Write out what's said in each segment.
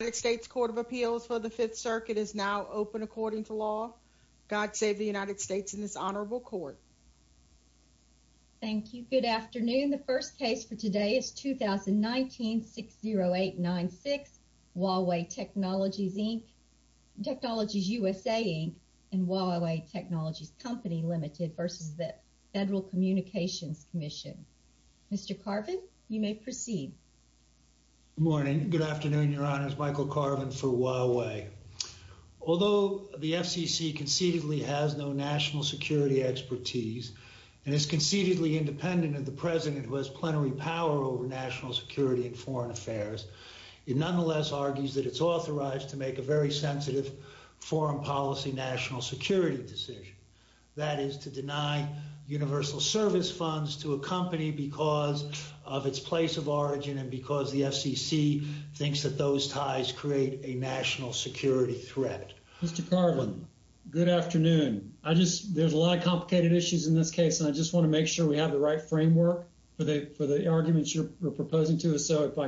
United States Court of Appeals for the Fifth Circuit is now open according to law. God save the United States in this honorable court. Thank you. Good afternoon. The first case for today is 2019-60896, Huawei Technologies, Inc., Technologies USA, Inc. and Huawei Technologies Company Limited versus the Federal Communications Commission. Mr. Carvin, you may proceed. Good morning. Good afternoon, Your Honors. Michael Carvin for Huawei. Although the FCC concededly has no national security expertise and is concededly independent of the president who has plenary power over national security and foreign affairs, it nonetheless argues that it's authorized to make a very sensitive foreign policy national security decision, that is, to deny universal service funds to a company because of its place of origin and because the FCC thinks that those ties create a national security threat. Mr. Carvin, good afternoon. There's a lot of complicated issues in this case, and I just want to make sure we have the right framework for the arguments you're proposing to us, so if my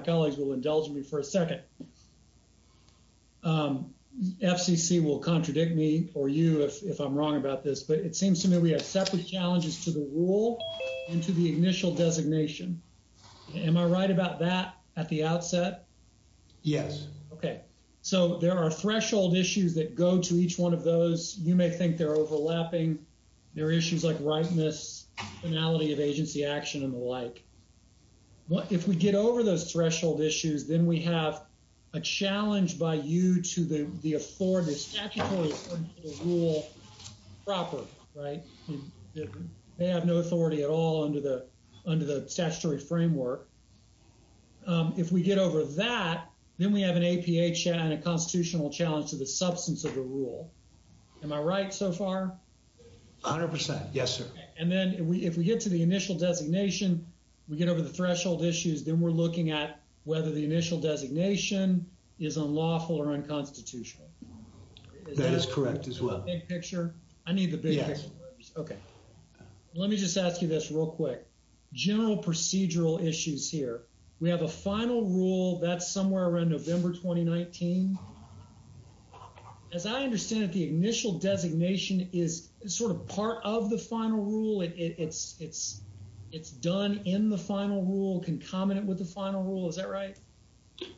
It seems to me we have separate challenges to the rule and to the initial designation. Am I right about that at the outset? Yes. Okay. So there are threshold issues that go to each one of those. You may think they're overlapping. There are issues like ripeness, finality of agency action, and the like. If we get over those threshold issues, then we have a challenge by you to the right. They have no authority at all under the statutory framework. If we get over that, then we have an APA and a constitutional challenge to the substance of the rule. Am I right so far? A hundred percent. Yes, sir. And then if we get to the initial designation, we get over the threshold issues, then we're looking at whether the initial designation is unlawful or unconstitutional. That is correct as well. I need the big picture. Okay. Let me just ask you this real quick. General procedural issues here. We have a final rule that's somewhere around November 2019. As I understand it, the initial designation is sort of part of the final rule. It's done in the final rule, concomitant with the final rule. Is that correct?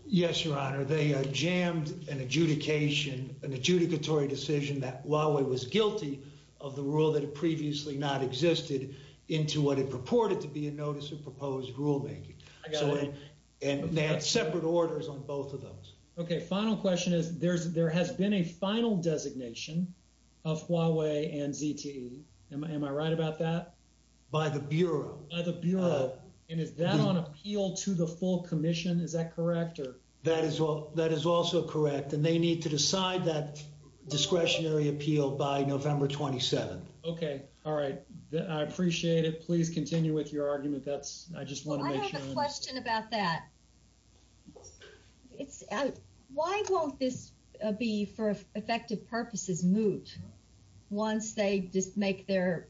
Yes, sir. They jammed an adjudication, an adjudicatory decision that Huawei was guilty of the rule that had previously not existed into what it purported to be a notice of proposed rulemaking. They had separate orders on both of those. Okay. Final question is there has been a final designation of Huawei and ZTE. Am I right about that? By the Bureau. By the Bureau. Is that appeal to the full commission? Is that correct? That is also correct. And they need to decide that discretionary appeal by November 27th. Okay. All right. I appreciate it. Please continue with your argument. I just want to make sure. I have a question about that. Why won't this be for effective purposes moot? Once they just make their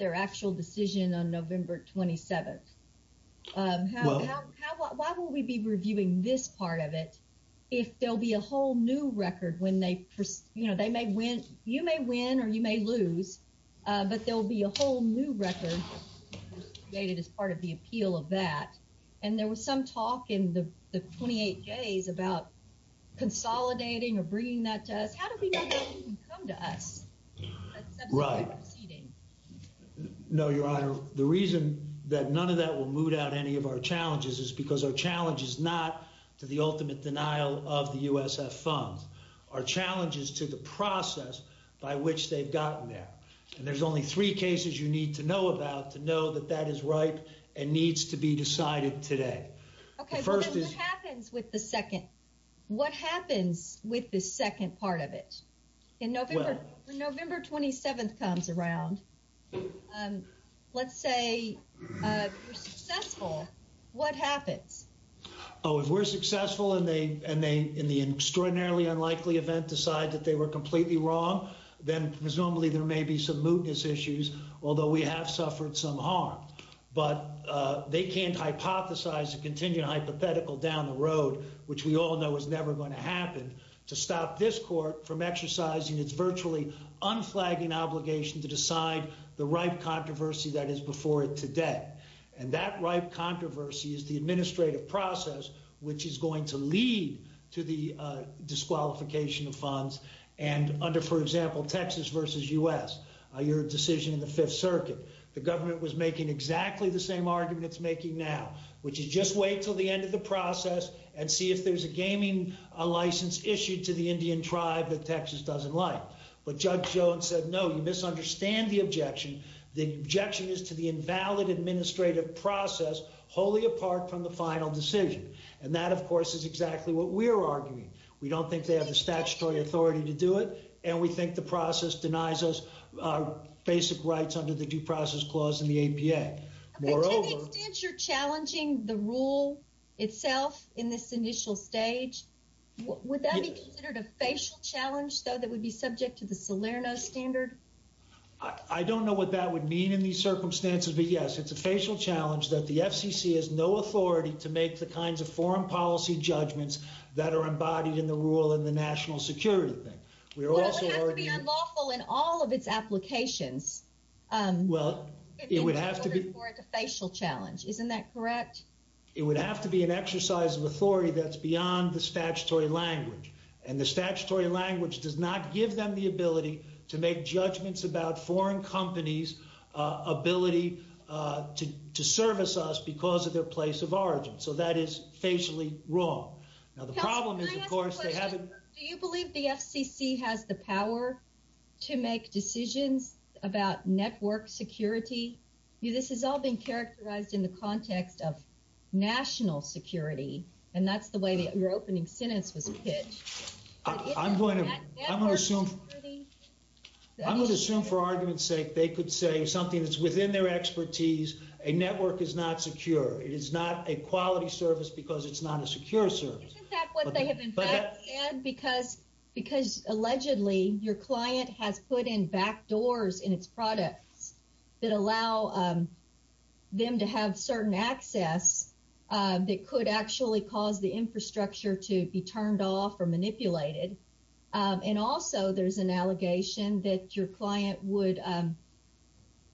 actual decision on 7th. Why will we be reviewing this part of it if there'll be a whole new record when they, you know, they may win. You may win or you may lose, but there'll be a whole new record created as part of the appeal of that. And there was some talk in the 28 days about consolidating or bringing that to us. How do we know they can come to us? Right. No, your honor. The reason that none of that will moot out any of our challenges is because our challenge is not to the ultimate denial of the USF funds. Our challenge is to the process by which they've gotten there. And there's only three cases you need to know about to know that that is right and needs to be decided today. Okay. What happens with the second? Part of it in November, November 27th comes around. Let's say you're successful. What happens? Oh, if we're successful and they, and they, in the extraordinarily unlikely event, decide that they were completely wrong, then presumably there may be some mootness issues. Although we have suffered some harm, but they can't hypothesize a contingent hypothetical down the road, which we all know is never going to happen to stop this court from exercising its virtually unflagging obligation to decide the right controversy that is before it today. And that right controversy is the administrative process, which is going to lead to the disqualification of funds. And under, for example, Texas versus us, your decision in the fifth circuit, the government was making exactly the same argument it's making now, which is just wait until the end of the process and see if there's a gaming license issued to the Indian tribe that Texas doesn't like. But judge Jones said, no, you misunderstand the objection. The objection is to the invalid administrative process, wholly apart from the final decision. And that of course is exactly what we're arguing. We don't think they have the statutory authority to do it. And we think the process denies us our basic rights under the due process clause in the APA. To the extent you're challenging the rule itself in this initial stage, would that be considered a facial challenge, though, that would be subject to the Salerno standard? I don't know what that would mean in these circumstances, but yes, it's a facial challenge that the FCC has no authority to make the kinds of foreign policy judgments that are embodied in the rule in the national security thing. Well, it would have to be unlawful in all of its applications. Well, it would have to be a facial challenge. Isn't that correct? It would have to be an exercise of authority that's beyond the statutory language. And the statutory language does not give them the ability to make judgments about foreign companies' ability to service us because of their place of origin. So that is facially wrong. Now, the problem is, of course, they haven't... Can I ask a question? Do you believe the FCC has the power to make decisions about network security? This has all been characterized in the context of national security, and that's the way that your opening sentence was pitched. I'm going to... I'm going to assume for argument's sake they could say something that's within their expertise, a network is not secure. It is not a quality service because it's not a secure service. Isn't that what they have in fact said? Because allegedly your client has put in back doors in its products that allow them to have certain access that could actually cause the infrastructure to be turned off or manipulated. And also there's an allegation that your client would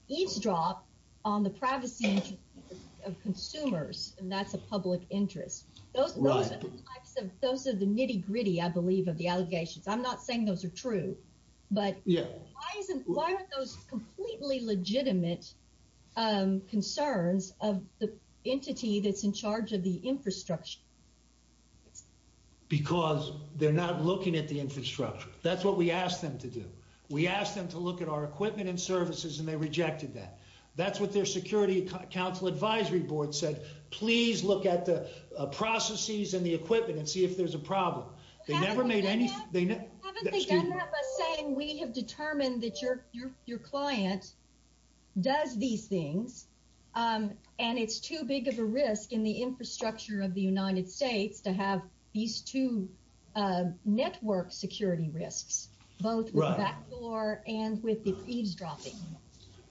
eavesdrop on the privacy of consumers, and that's a public interest. Those are the types of... Those are the nitty gritty, I believe, of the allegations. I'm not saying those are true, but why aren't those completely legitimate concerns of the entity that's in charge of the infrastructure? Because they're not looking at the infrastructure. That's what we asked them to do. We asked them to look at our equipment and services and they rejected that. That's what their Security Council Advisory Board said, please look at the processes and the equipment and see if there's a problem. They never made any... Haven't they done that by saying we have determined that your client does these things and it's too big of a risk in the infrastructure of the United States to have these two network security risks, both with the back door and with the eavesdropping?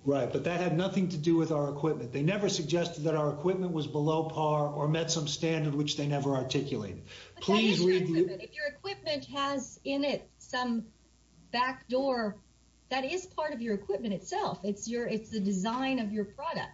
Right, but that had nothing to do with our equipment. They never suggested that our equipment was below par or met some standard which they never articulated. But that is your equipment. If your equipment has in it some back door, that is part of your equipment itself. It's the design of your product.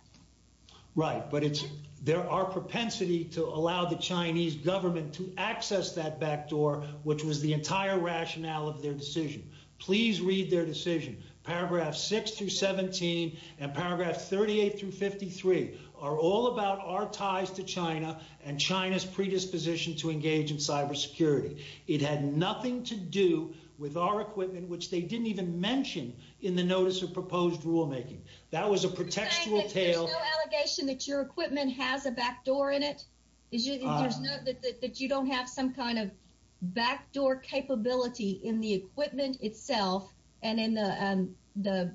Right, but it's our propensity to allow the Chinese government to access that back door, which was the entire rationale of their decision. Please read their decision. Paragraphs 6 through 17 and paragraph 38 through 53 are all about our ties to China and China's predisposition to engage in cybersecurity. It had nothing to do with our equipment, which they didn't even mention in the notice of proposed rulemaking. That was a pretextual tale. You're saying that there's no allegation that your equipment has a back door in it? That you don't have some kind of back door capability in the equipment itself and in the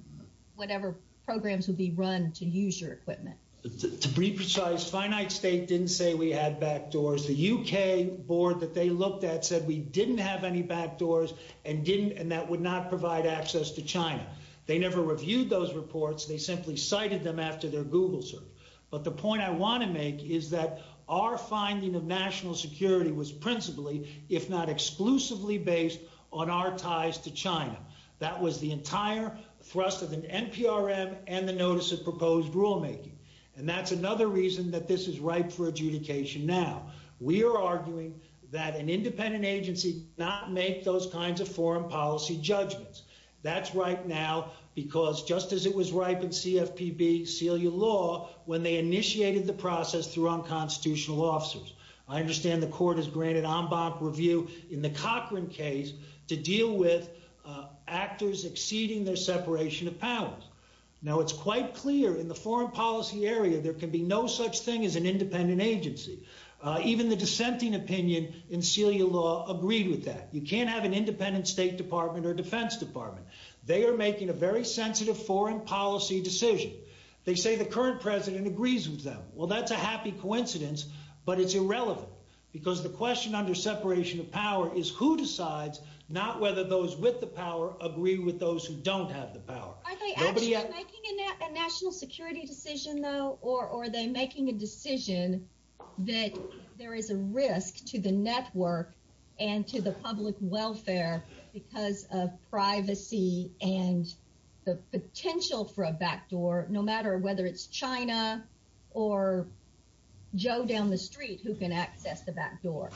whatever programs would be run to use your equipment? To be precise, Finite State didn't say we had back doors. The UK board that they looked at didn't have any back doors and that would not provide access to China. They never reviewed those reports. They simply cited them after their Google search. But the point I want to make is that our finding of national security was principally, if not exclusively, based on our ties to China. That was the entire thrust of the NPRM and the notice of proposed rulemaking. And that's another reason that this is ripe for adjudication now. We are arguing that an independent agency not make those kinds of foreign policy judgments. That's right now, because just as it was ripe in CFPB, seal your law when they initiated the process through unconstitutional officers. I understand the court has granted en banc review in the Cochran case to deal with actors exceeding their separation of powers. Now, it's quite clear in the foreign policy area, there can be no such thing as an independent agency. Even the dissenting opinion in Celia law agreed with that. You can't have an independent State Department or Defense Department. They are making a very sensitive foreign policy decision. They say the current president agrees with them. Well, that's a happy coincidence, but it's irrelevant because the question under separation of power is who decides, not whether those with the power agree with those who don't have the power. Are they actually making a national security decision, though? Or are they making a decision that there is a risk to the network and to the public welfare because of privacy and the potential for a backdoor, no matter whether it's China or Joe down the street who can access the backdoor?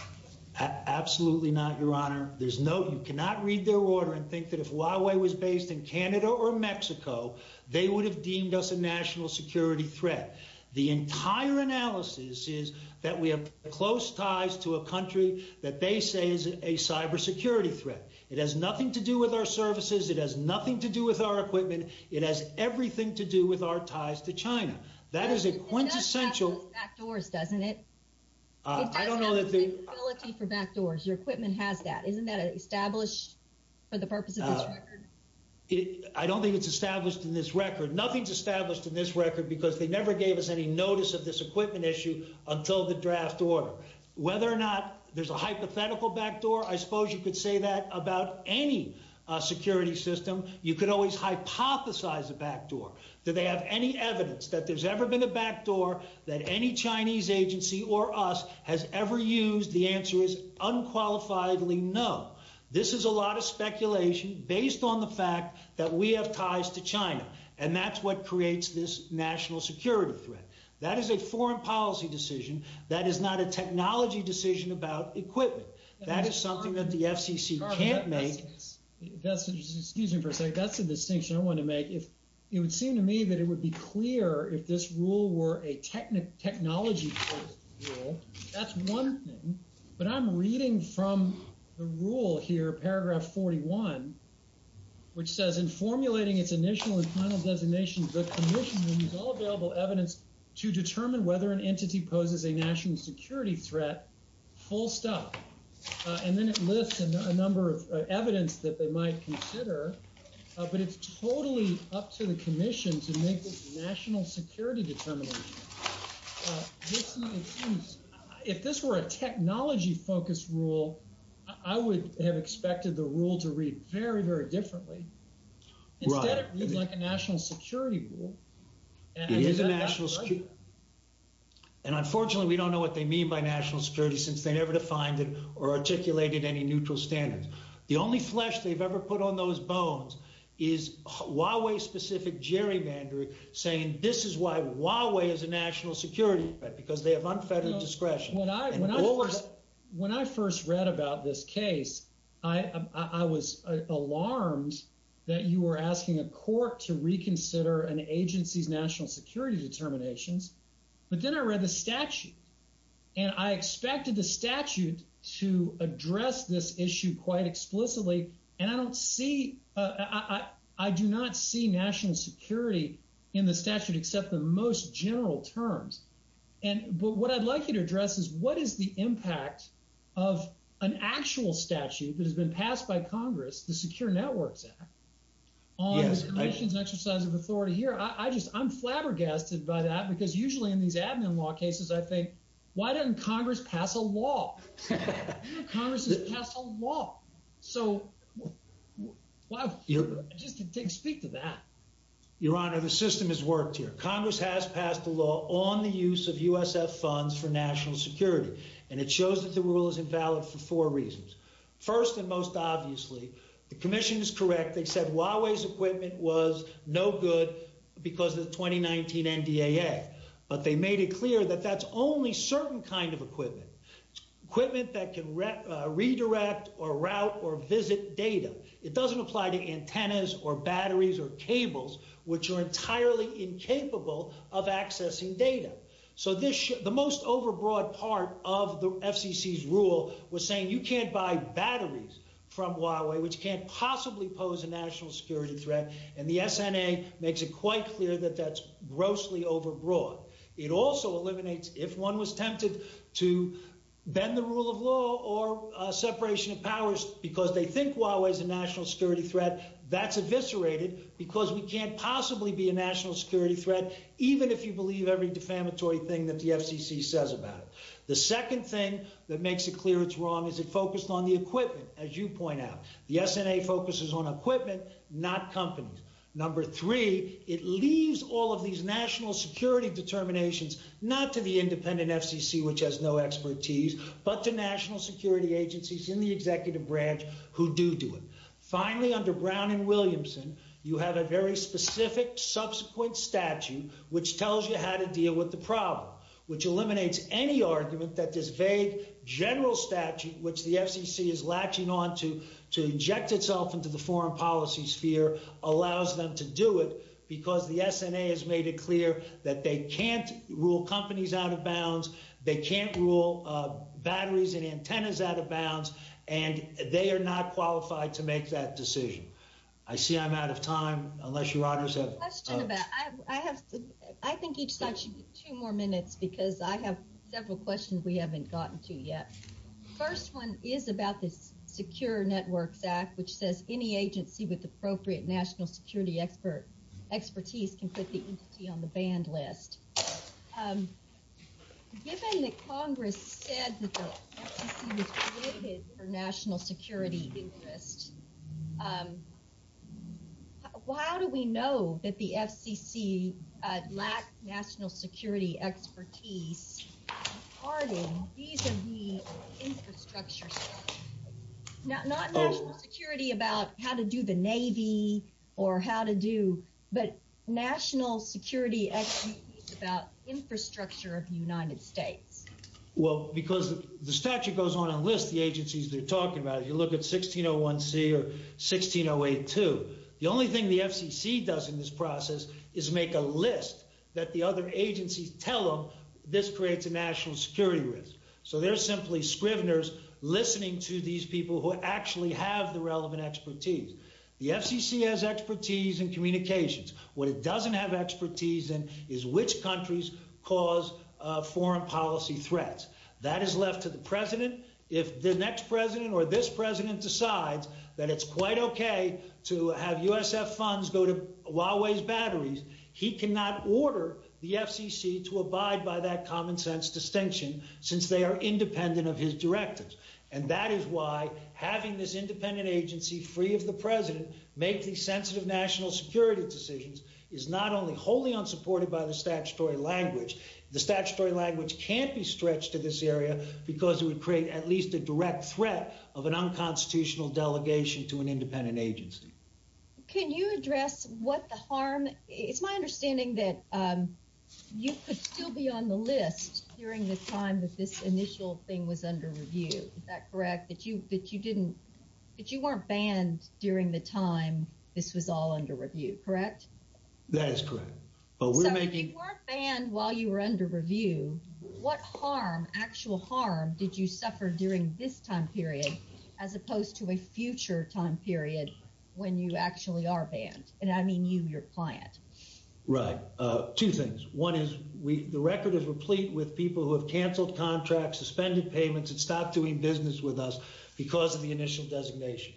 Absolutely not, Your Honor. You cannot read their order and think that if Huawei was based in Canada or Mexico, they would have deemed us a national security threat. The entire analysis is that we have close ties to a country that they say is a cyber security threat. It has nothing to do with our services. It has nothing to do with our equipment. It has everything to do with our ties to China. That is a quintessential backdoors, doesn't it? I don't know that the ability for backdoors, your equipment has that. Isn't that established for the purpose of this record? I don't think it's established in this record. Nothing's established in this record because they never gave us any notice of this equipment issue until the draft order. Whether or not there's a hypothetical backdoor, I suppose you could say that about any security system. You could always hypothesize a backdoor. Do they have any evidence that there's ever been a backdoor that any Chinese agency or us has ever used? The answer is unqualifiably no. This is a lot of speculation based on the fact that we have ties to China, and that's what creates this national security threat. That is a foreign policy decision. That is not a technology decision about equipment. That is something that the FCC can't make. Excuse me for a second. That's a distinction I want to make. It would seem to me that it That's one thing, but I'm reading from the rule here, paragraph 41, which says, in formulating its initial and final designation, the commission will use all available evidence to determine whether an entity poses a national security threat full stop. Then it lists a number of evidence that they might consider, but it's totally up to the commission to make this national security determination. If this were a technology-focused rule, I would have expected the rule to read very, very differently. Instead, it reads like a national security rule. It is a national security rule. Unfortunately, we don't know what they mean by national security since they never defined it or articulated any neutral standards. The only flesh they've ever national security because they have unfettered discretion. When I first read about this case, I was alarmed that you were asking a court to reconsider an agency's national security determinations. Then I read the statute. I expected the statute to address this issue quite explicitly. I do not see national security in the statute, except the most general terms. What I'd like you to address is, what is the impact of an actual statute that has been passed by Congress, the Secure Networks Act, on the commission's exercise of authority here? I'm flabbergasted by that because, usually, in these admin law cases, I think, why doesn't Congress pass a law? Congress has passed a law. Speak to that. Your Honor, the system has worked here. Congress has passed a law on the use of USF funds for national security. It shows that the rule is invalid for four reasons. First and most obviously, the commission is correct. They said Huawei's equipment was no good because of the 2019 NDAA, but they made it clear that that's only certain kind of equipment, equipment that can redirect or route or visit data. It doesn't apply to antennas or batteries or cables, which are entirely incapable of accessing data. The most overbroad part of the FCC's rule was saying you can't buy batteries from Huawei, which can't possibly pose a national security threat. The SNA makes it quite clear that that's grossly overbroad. It also eliminates, if one was tempted to bend the rule of law or separation of powers because they think Huawei is a national security threat, that's eviscerated because we can't possibly be a national security threat, even if you believe every defamatory thing that the FCC says about it. The second thing that makes it clear it's wrong is it focused on the equipment, as you point out. The SNA focuses on equipment, not companies. Number three, it leaves all of these national security determinations not to the independent FCC, which has no expertise, but to national security agencies in the executive branch who do do it. Finally, under Brown and Williamson, you have a very specific subsequent statute which tells you how to deal with the problem, which eliminates any argument that this vague general statute, which the FCC is latching onto to inject itself into the foreign policy sphere, allows them to do it because the SNA has made it that they can't rule companies out of bounds, they can't rule batteries and antennas out of bounds, and they are not qualified to make that decision. I see I'm out of time, unless you want to say. I think each side should get two more minutes because I have several questions we haven't gotten to yet. First one is about this Secure Networks Act, which says any agency with a national security interest, given that Congress said that the FCC was created for national security interest, how do we know that the FCC lacks national security expertise? These are the infrastructure stuff, not national security about how to do the Navy, or how to do, but national security expertise about infrastructure of the United States. Well, because the statute goes on a list, the agencies they're talking about, if you look at 1601C or 16082, the only thing the FCC does in this process is make a list that the other agencies tell them this creates a national security risk. So they're simply scriveners listening to these people who actually have the relevant expertise. The FCC has expertise in communications. What it doesn't have expertise in is which countries cause foreign policy threats. That is left to the president. If the next president or this president decides that it's quite okay to have USF funds go to Huawei's batteries, he cannot order the FCC to abide by that common sense distinction since they are independent of his directives. And that is why having this independent agency free of the president make these sensitive national security decisions is not only wholly unsupported by the statutory language, the statutory language can't be stretched to this area because it would create at least a direct threat of an unconstitutional delegation to an independent agency. Can you address what the harm is? It's my understanding that you could still be on the list during the time that this initial thing was under review. Is that correct? That you weren't banned during the time this was all under review, correct? That is correct. So if you weren't banned while you were under review, what harm, actual harm, did you suffer during this time period as opposed to a future time period when you actually are banned? And I mean you, your client. Right. Two things. One is the record is replete with people who have canceled contracts, suspended payments, and stopped doing business with us because of the initial designation.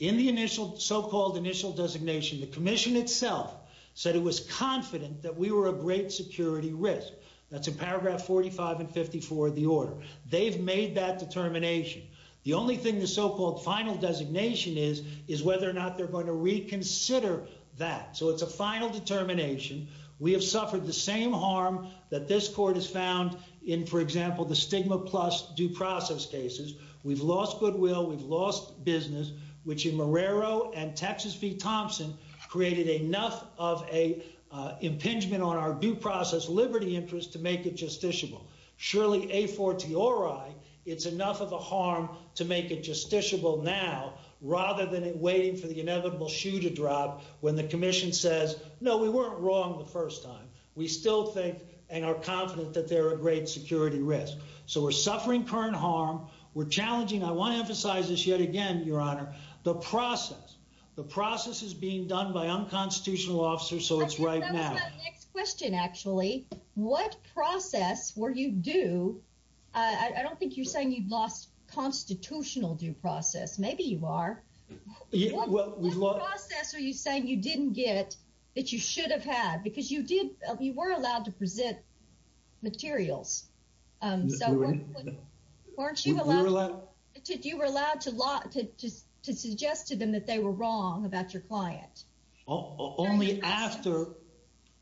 In the initial, so-called initial designation, the commission itself said it was confident that we were a great security risk. That's in paragraph 45 and 54 of the order. They've made that determination. The only thing the so-called final designation is, is whether or not they're going to reconsider that. So it's a final determination. We have suffered the same harm that this court has found in, for example, the stigma plus due process cases. We've lost goodwill, we've lost business, which in Marrero and Texas v Thompson created enough of a impingement on our due process liberty interest to make it justiciable. Surely a for t or i, it's enough of a harm to make it justiciable now, rather than it waiting for the inevitable shoe to drop when the commission says, no, we weren't wrong the first time. We still think and are confident that they're a great security risk. So we're suffering current harm. We're challenging. I want to emphasize this yet again, your honor, the process, the process is being done by unconstitutional officers. So it's right now. Next question, actually, what process were you do? I don't think you're saying you've lost constitutional due process. Maybe you are. What process are you saying you didn't get that you should have had because you did, you were allowed to present materials. Did you were allowed to lie to, to, to suggest to them that they were wrong about your client? Only after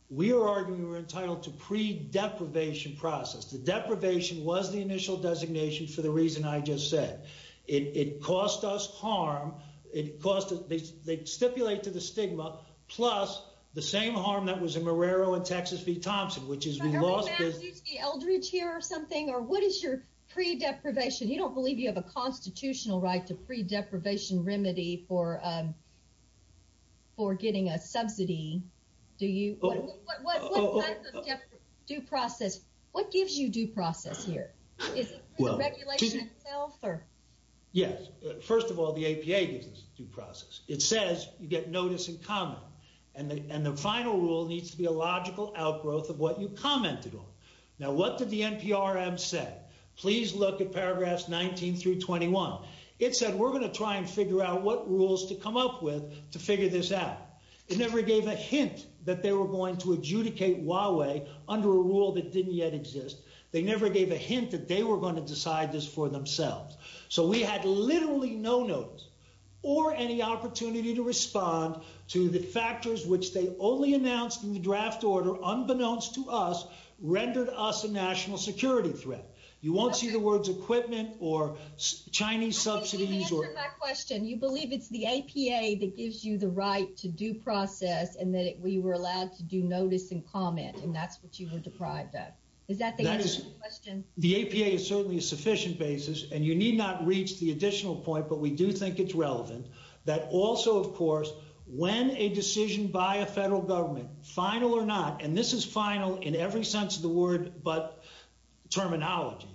we were arguing, we were entitled to pre deprivation process. The deprivation was the initial designation for the reason I just said, it cost us harm. It cost us, they stipulate to the stigma plus the same harm that was in Marrero and Texas V Thompson, which is Eldridge here or something, or what is your pre deprivation? You don't believe you have a constitutional right to pre deprivation remedy for, um, for getting a subsidy. Do you do process? What gives you due process here? Is it the regulation itself or? Yes. First of all, the APA gives us due process. It says you get notice in common and the, and the final rule needs to be a logical outgrowth of what you commented on. Now, what did the NPRM said? Please look at paragraphs 19 through 21. It said, we're going to try and figure out what rules to come up with to figure this out. It never gave a hint that they were going to adjudicate Huawei under a rule that didn't yet exist. They never gave a hint that they were going to decide this for themselves. So we had literally no notes or any opportunity to respond to the factors, which they only announced in the draft order, unbeknownst to us, rendered us a national security threat. You won't see the words equipment or Chinese subsidies. You believe it's the APA that gives you the right to due process and that we were allowed to do notice and comment. And that's what you were deprived of. Is that the question? The APA is certainly a sufficient basis and you need not reach the additional point, but we do think it's relevant that also, of course, when a decision by a federal government final or not, and this is final in every sense of the word, but terminology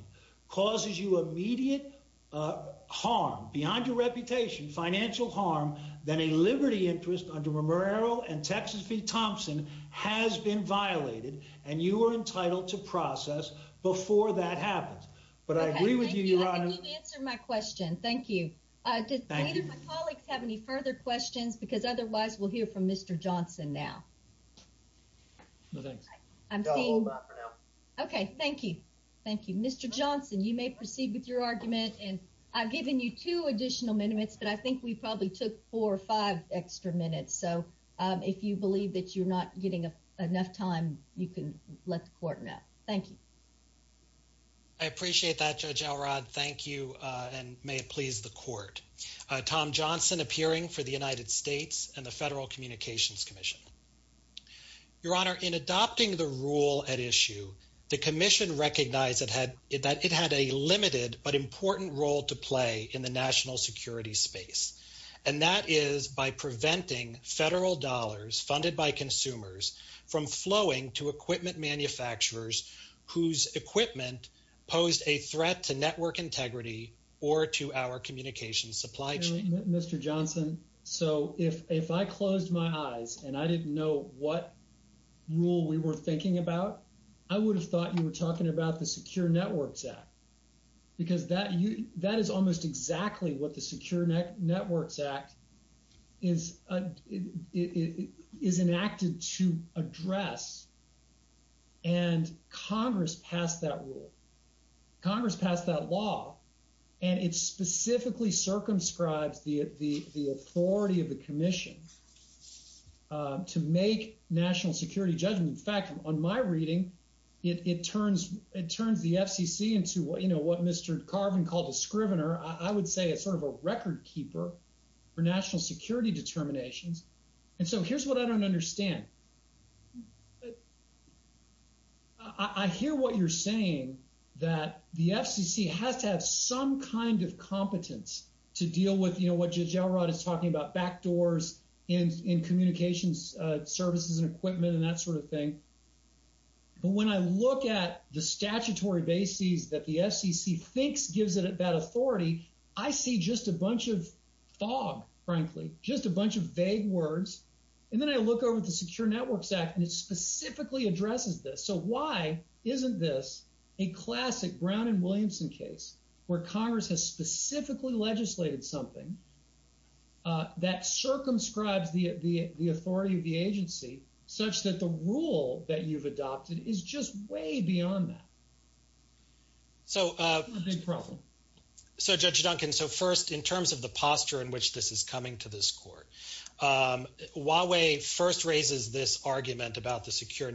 causes you immediate harm beyond your reputation, financial harm, then a liberty interest under Romero and Texas v. Thompson has been violated and you are entitled to process before that happens. But I agree with you, your honor. Answer my question. Thank you. Uh, did my colleagues have any further questions? Because otherwise we'll hear from Mr. Johnson now. Okay. Thank you. Thank you, Mr. Johnson. You may proceed with your argument and I've given you two additional minutes, but I think we probably took four or five extra minutes. So, um, if you believe that you're not getting enough time, you can let the court know. Thank you. I appreciate that judge Alrod. Thank you. Uh, and may it please the court, uh, Tom Johnson appearing for the United States and the federal communications commission, your honor in adopting the rule at issue, the commission recognized that had it, that it had a limited, but important role to play in the national security space. And that is by preventing federal dollars funded by consumers from flowing to equipment manufacturers, whose equipment posed a threat to network integrity or to our communication supply chain, Mr. Johnson. So if, if I closed my eyes and I didn't know what rule we were thinking about, I would have thought you were talking about the secure networks act, because that you, that is almost exactly what the secure net networks act is, is enacted to address and Congress passed that rule. Congress passed that law and it's specifically circumscribes the, the authority of the commission, uh, to make national security judgment. In fact, on my reading, it, it turns, it turns the FCC into what, you know, what Mr. Carvin called a scrivener. I would say it's sort of a record keeper for national security determinations. And so here's what I don't understand. I hear what you're saying that the FCC has to have some kind of competence to deal with, you know, what Judge Elrod is talking about backdoors in, in communications, uh, services and equipment and that sort of thing. But when I look at the statutory bases that the FCC thinks gives it a bad authority, I see just a bunch of fog, frankly, just a bunch of vague words. And then I look over at the secure networks act and it specifically addresses this. So why isn't this a classic Brown and Williamson case where Congress has specifically legislated something, uh, that circumscribes the, the, the authority of the agency such that the rule that you've adopted is just way beyond that. So, uh, so Judge Duncan, so first in terms of the posture in which this is coming to this court, um, Huawei first raises this argument about the secure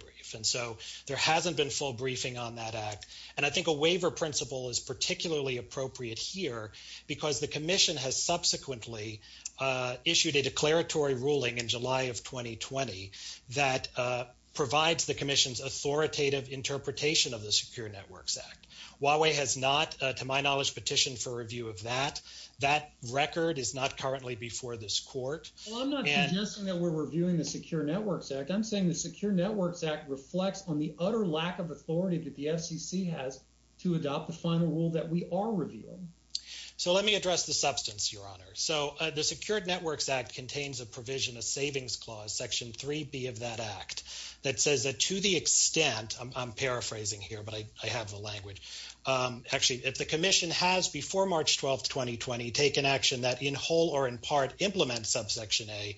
brief. And so there hasn't been full briefing on that act. And I think a waiver principle is particularly appropriate here because the commission has subsequently, uh, issued a declaratory ruling in July of 2020 that, uh, provides the commission's authoritative interpretation of the secure networks act. Huawei has not, uh, to my knowledge, petitioned for review of that. That record is not currently before this court. Well, I'm not suggesting that we're reviewing the secure networks act. I'm saying the secure networks act reflects on the utter lack of authority that the FCC has to adopt the final rule that we are reviewing. So let me address the substance, your honor. So, uh, the secured networks act contains a provision, a savings clause section three B of that act that says that to the extent I'm paraphrasing here, but I, I have the language. Um, actually if the commission has before March 12th, take an action that in whole or in part implement subsection a,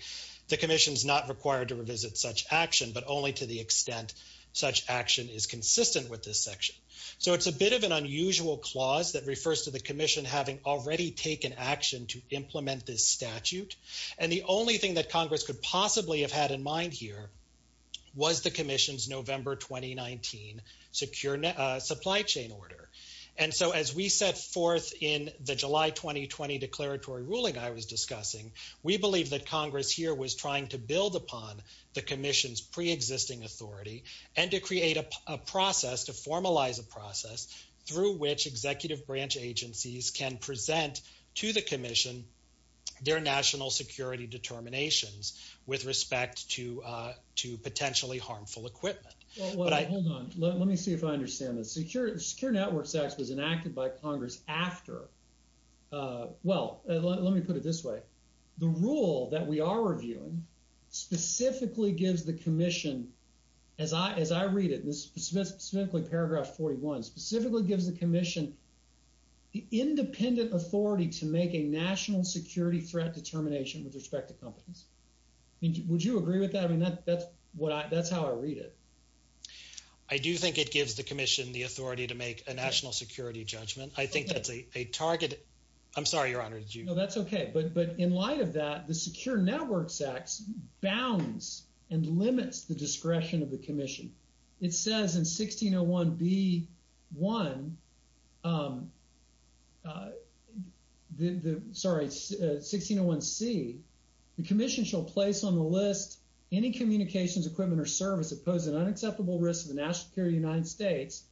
the commission's not required to revisit such action, but only to the extent such action is consistent with this section. So it's a bit of an unusual clause that refers to the commission having already taken action to implement this statute. And the only thing that Congress could possibly have had in mind here was the commission's November, 2019 secure supply chain order. And so as we set forth in the July, 2020 declaratory ruling, I was discussing, we believe that Congress here was trying to build upon the commission's preexisting authority and to create a process to formalize a process through which executive branch agencies can present to the commission, their national security determinations with respect to, uh, to potentially harmful equipment. Well, hold on, let me see if I understand the secure secure networks acts was enacted by uh, well, let me put it this way. The rule that we are reviewing specifically gives the commission as I, as I read it, specifically paragraph 41 specifically gives the commission the independent authority to make a national security threat determination with respect to companies. I mean, would you agree with that? I mean, that's what I, that's how I read it. I do think it gives the commission the authority to make a national security judgment. I think that's a target. I'm sorry, your honor. Did you know that's okay. But, but in light of that, the secure networks acts bounds and limits the discretion of the commission. It says in 1601 B one, um, uh, the, the, sorry, uh, 1601 C the commission shall place on the list any communications equipment or service that poses an unacceptable risk of the national United States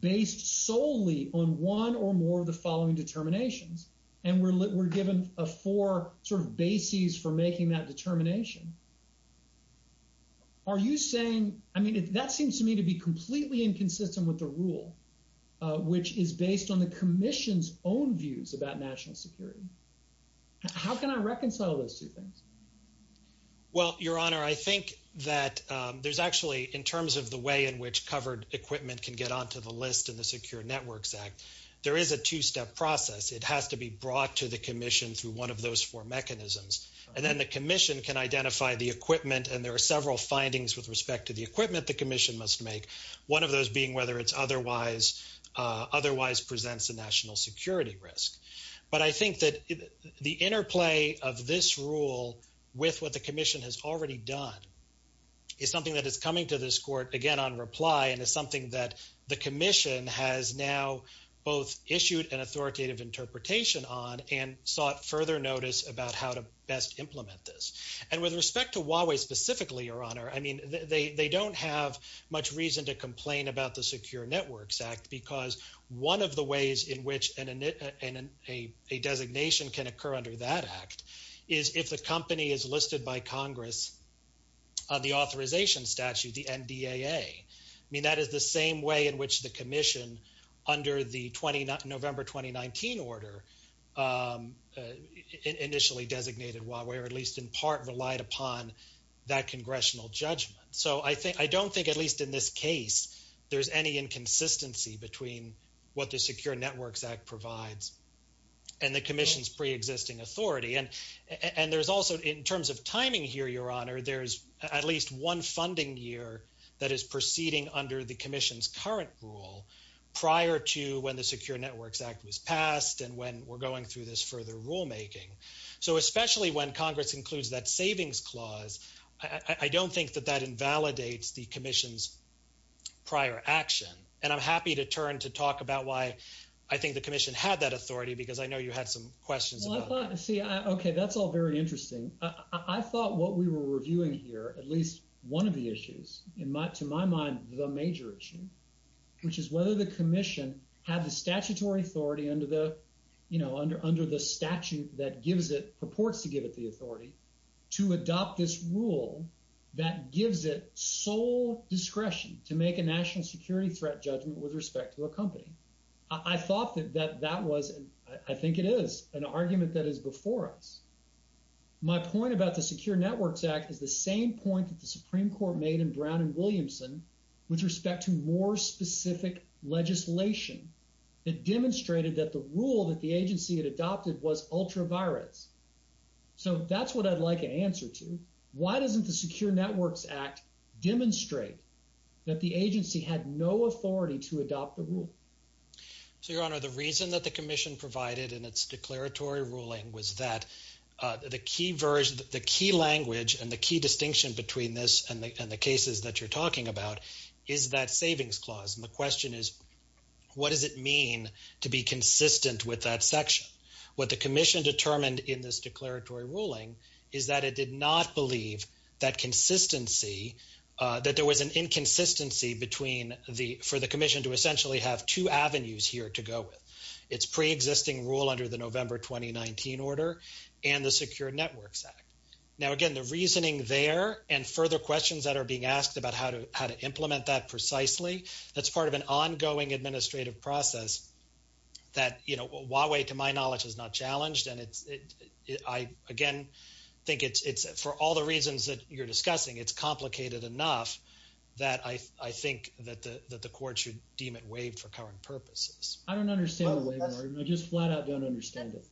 based solely on one or more of the following determinations. And we're, we're given a four sort of bases for making that determination. Are you saying, I mean, that seems to me to be completely inconsistent with the rule, which is based on the commission's own views about national security. How can I reconcile those two things? Well, your honor, I think that, um, there's actually in terms of the way in which covered equipment can get onto the list and the secure networks act, there is a two-step process. It has to be brought to the commission through one of those four mechanisms. And then the commission can identify the equipment. And there are several findings with respect to the equipment, the commission must make one of those being whether it's otherwise, uh, otherwise presents a national security risk. But I think that the interplay of this rule with what the commission has already done is something that is coming to this court again, on reply. And it's something that the commission has now both issued an authoritative interpretation on and sought further notice about how to best implement this. And with respect to Huawei specifically, your honor, I mean, they, they don't have much reason to complain about the secure networks act because one of the ways in which an, an, a, a designation can occur under that act is if the company is listed by Congress on the authorization statute, the NDAA, I mean, that is the same way in which the commission under the 20, November, 2019 order, um, uh, initially designated Huawei, or at least in part relied upon that congressional judgment. So I think, I don't think at least in this case, there's any inconsistency between what the secure And there's also in terms of timing here, your honor, there's at least one funding year that is proceeding under the commission's current rule prior to when the secure networks act was passed. And when we're going through this further rulemaking, so especially when Congress includes that savings clause, I don't think that that invalidates the commission's prior action. And I'm happy to turn to talk about why I think the commission had that authority, because I know you had some questions. Well, I thought, see, I, okay, that's all very interesting. I thought what we were reviewing here, at least one of the issues in my, to my mind, the major issue, which is whether the commission had the statutory authority under the, you know, under, under the statute that gives it, purports to give it the authority to adopt this rule that gives it sole discretion to make a national security threat judgment with respect to a company. I thought that that, that was, I think it is an argument that is before us. My point about the secure networks act is the same point that the Supreme Court made in Brown and Williamson with respect to more specific legislation. It demonstrated that the rule that the agency had adopted was ultra virus. So that's what I'd like an answer to. Why doesn't the secure So your honor, the reason that the commission provided in its declaratory ruling was that the key version, the key language and the key distinction between this and the, and the cases that you're talking about is that savings clause. And the question is, what does it mean to be consistent with that section? What the commission determined in this declaratory ruling is that it did not believe that consistency that there was an inconsistency between the, for the commission to have two avenues here to go with. It's pre-existing rule under the November, 2019 order and the secure networks act. Now, again, the reasoning there and further questions that are being asked about how to, how to implement that precisely. That's part of an ongoing administrative process that, you know, Huawei to my knowledge is not challenged. And it's, I again, think it's, it's for all the reasons that you're discussing, it's complicated enough that I, I think that the, that the court should deem it waived for current purposes. I don't understand the waiver. I just flat out don't understand it.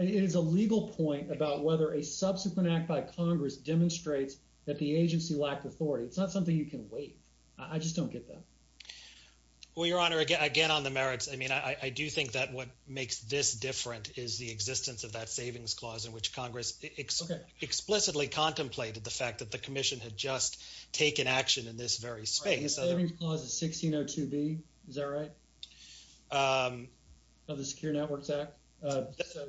It is a legal point about whether a subsequent act by Congress demonstrates that the agency lacked authority. It's not something you can wait. I just don't get that. Well, your honor, again, again, on the merits, I mean, I do think that what makes this different is the existence of that savings clause in which Congress explicitly contemplated the fact that the commission had just taken action in this very space. Savings clause of 1602B, is that right? Of the secure networks act,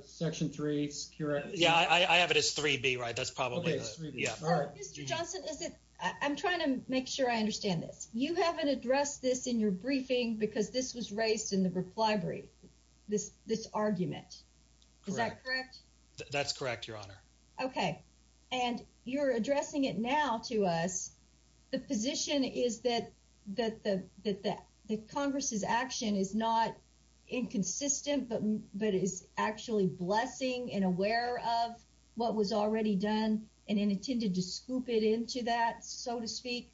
section three, secure. Yeah, I have it as 3B, right? That's probably, yeah. Mr. Johnson, is it, I'm trying to make sure I understand this. You haven't addressed this in your briefing because this was raised in the reply brief, this, this argument, is that correct? That's correct, your honor. Okay. And you're addressing it now to us. The position is that, that the, that the Congress's action is not inconsistent, but, but is actually blessing and aware of what was already done and intended to scoop it into that, so to speak.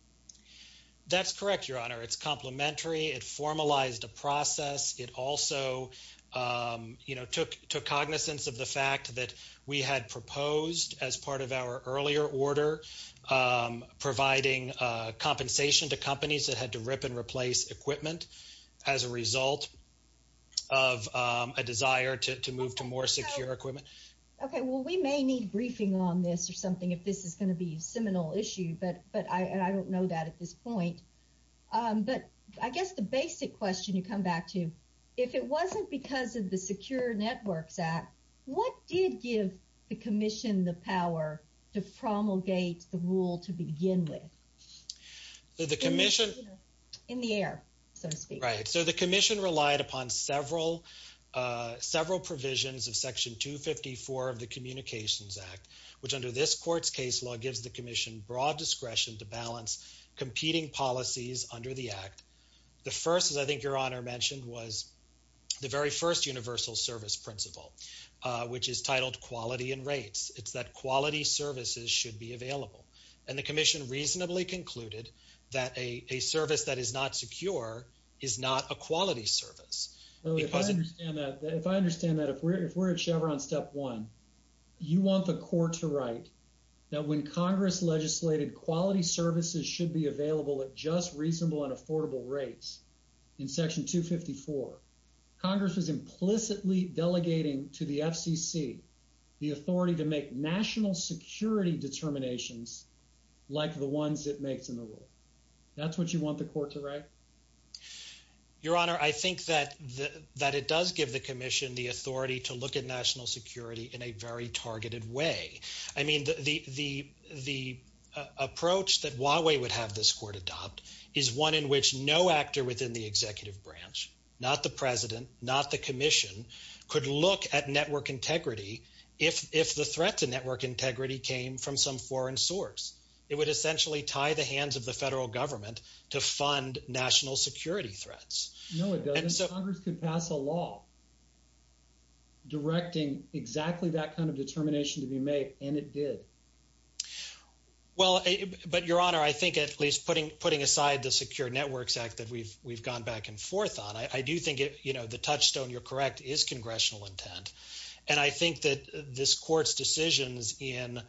That's correct, your honor. It's complementary. It formalized a process. It also, you know, took cognizance of the fact that we had proposed as part of our earlier order, providing compensation to companies that had to rip and replace equipment as a result of a desire to move to more secure equipment. Okay. Well, we may need briefing on this or something, if this is going to be a seminal issue, but, but I, and I don't know that at this point. But I guess the basic question you come back to, if it wasn't because of the Secure Networks Act, what did give the commission the power to promulgate the rule to begin with? So the commission... In the air, so to speak. Right. So the commission relied upon several, several provisions of section 254 of the broad discretion to balance competing policies under the act. The first, as I think your honor mentioned, was the very first universal service principle, which is titled quality and rates. It's that quality services should be available. And the commission reasonably concluded that a service that is not secure is not a quality service. If I understand that, if we're at Chevron step one, you want the court to write that when Congress legislated quality services should be available at just reasonable and affordable rates in section 254, Congress was implicitly delegating to the FCC the authority to make national security determinations like the ones it makes in the rule. That's what you want the court to write? Your honor, I think that, that it does give the commission the authority to look at national security in a very targeted way. I mean, the approach that Huawei would have this court adopt is one in which no actor within the executive branch, not the president, not the commission, could look at network integrity if the threat to network integrity came from some foreign source. It would essentially tie the hands of the federal government to fund national security threats. No, it doesn't. Congress could pass a law directing exactly that kind of determination to be made, and it did. Well, but your honor, I think at least putting, putting aside the Secure Networks Act that we've, we've gone back and forth on, I do think it, you know, the touchstone, you're correct, is congressional intent. And I think that this court's decisions in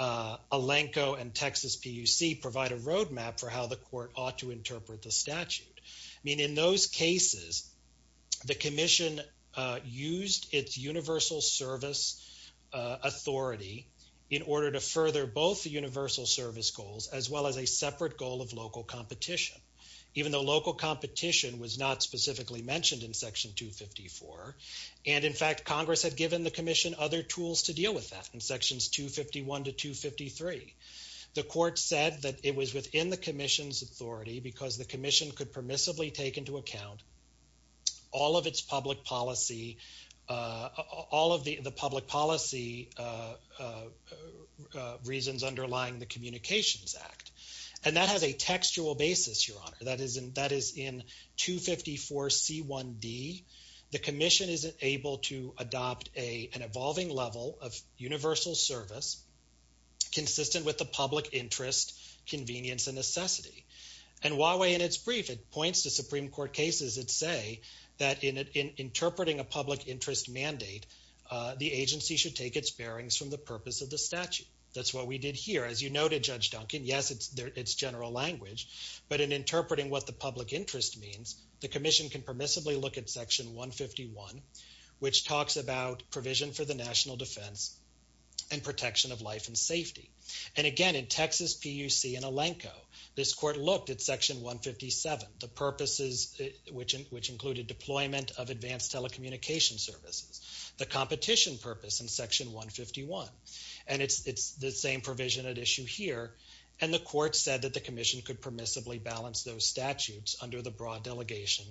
Alenco and Texas PUC provide a roadmap for how the court ought to interpret the statute. I mean, in those cases, the commission used its universal service authority in order to further both the universal service goals as well as a separate goal of local competition, even though local competition was not specifically mentioned in section 254. And in fact, Congress had given the commission other tools to deal with that in sections 251 to to account all of its public policy, all of the public policy reasons underlying the Communications Act. And that has a textual basis, your honor. That is in, that is in 254C1D. The commission is able to adopt a, an evolving level of universal service consistent with the public interest, convenience, and necessity. And Huawei, in its brief, it points to Supreme Court cases that say that in interpreting a public interest mandate, the agency should take its bearings from the purpose of the statute. That's what we did here. As you noted, Judge Duncan, yes, it's there, it's general language, but in interpreting what the public interest means, the commission can permissibly look at section 151, which talks about provision for the national defense and protection of life and safety. And again, in Texas PUC in Elanco, this court looked at section 157, the purposes, which, which included deployment of advanced telecommunication services, the competition purpose in section 151. And it's, it's the same provision at issue here. And the court said that the commission could permissibly balance those statutes under the broad delegation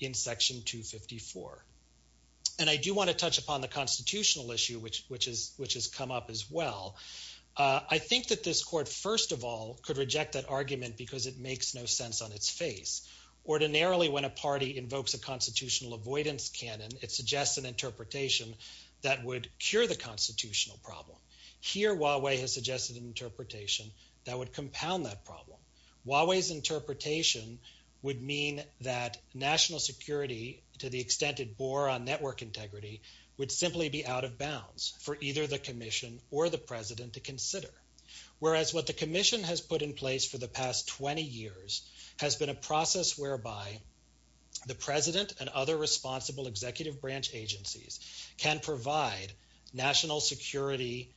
in section 254. And I do want to touch upon the constitutional issue, which, which has come up as well. I think that this court, first of all, could reject that argument because it makes no sense on its face. Ordinarily, when a party invokes a constitutional avoidance canon, it suggests an interpretation that would cure the constitutional problem. Here, Huawei has suggested an interpretation that would compound that problem. Huawei's interpretation would mean that national security, to the extent it bore on network integrity, would simply be out of bounds for either the commission or the president to consider. Whereas what the commission has put in place for the past 20 years has been a process whereby the president and other responsible executive branch agencies can provide national security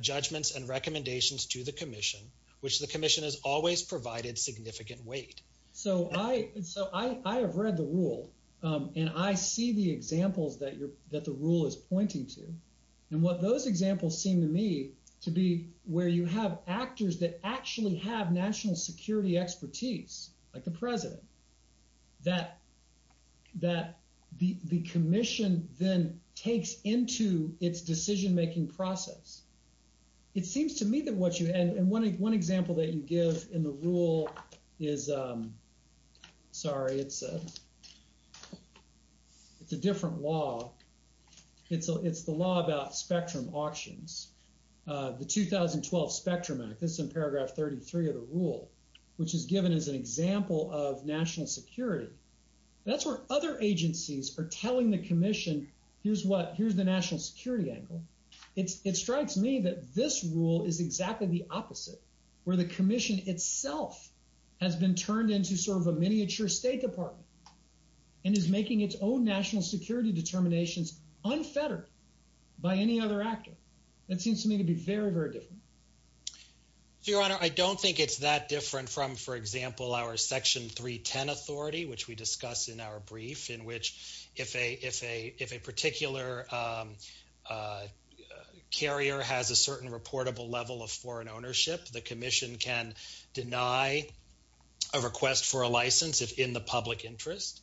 judgments and recommendations to the commission, which the commission has always provided significant weight. So I, so I, I have read the rule and I see the examples that you're, that the rule is pointing to. And what those examples seem to me to be where you have actors that actually have national security expertise, like the president, that, that the, the commission then takes into its decision-making process. It seems to me that what you had, and one, one example that you give in the rule is, sorry, it's a, it's a different law. It's, it's the law about spectrum auctions. The 2012 Spectrum Act, this is in paragraph 33 of the rule, which is given as an example of national security. That's where other agencies are telling the commission, here's what, here's the national security angle. It's, it strikes me that this is exactly the opposite, where the commission itself has been turned into sort of a miniature state department and is making its own national security determinations unfettered by any other actor. That seems to me to be very, very different. So, your honor, I don't think it's that different from, for example, our section 310 authority, which we discuss in our brief, in which if a, a particular carrier has a certain reportable level of foreign ownership, the commission can deny a request for a license if in the public interest.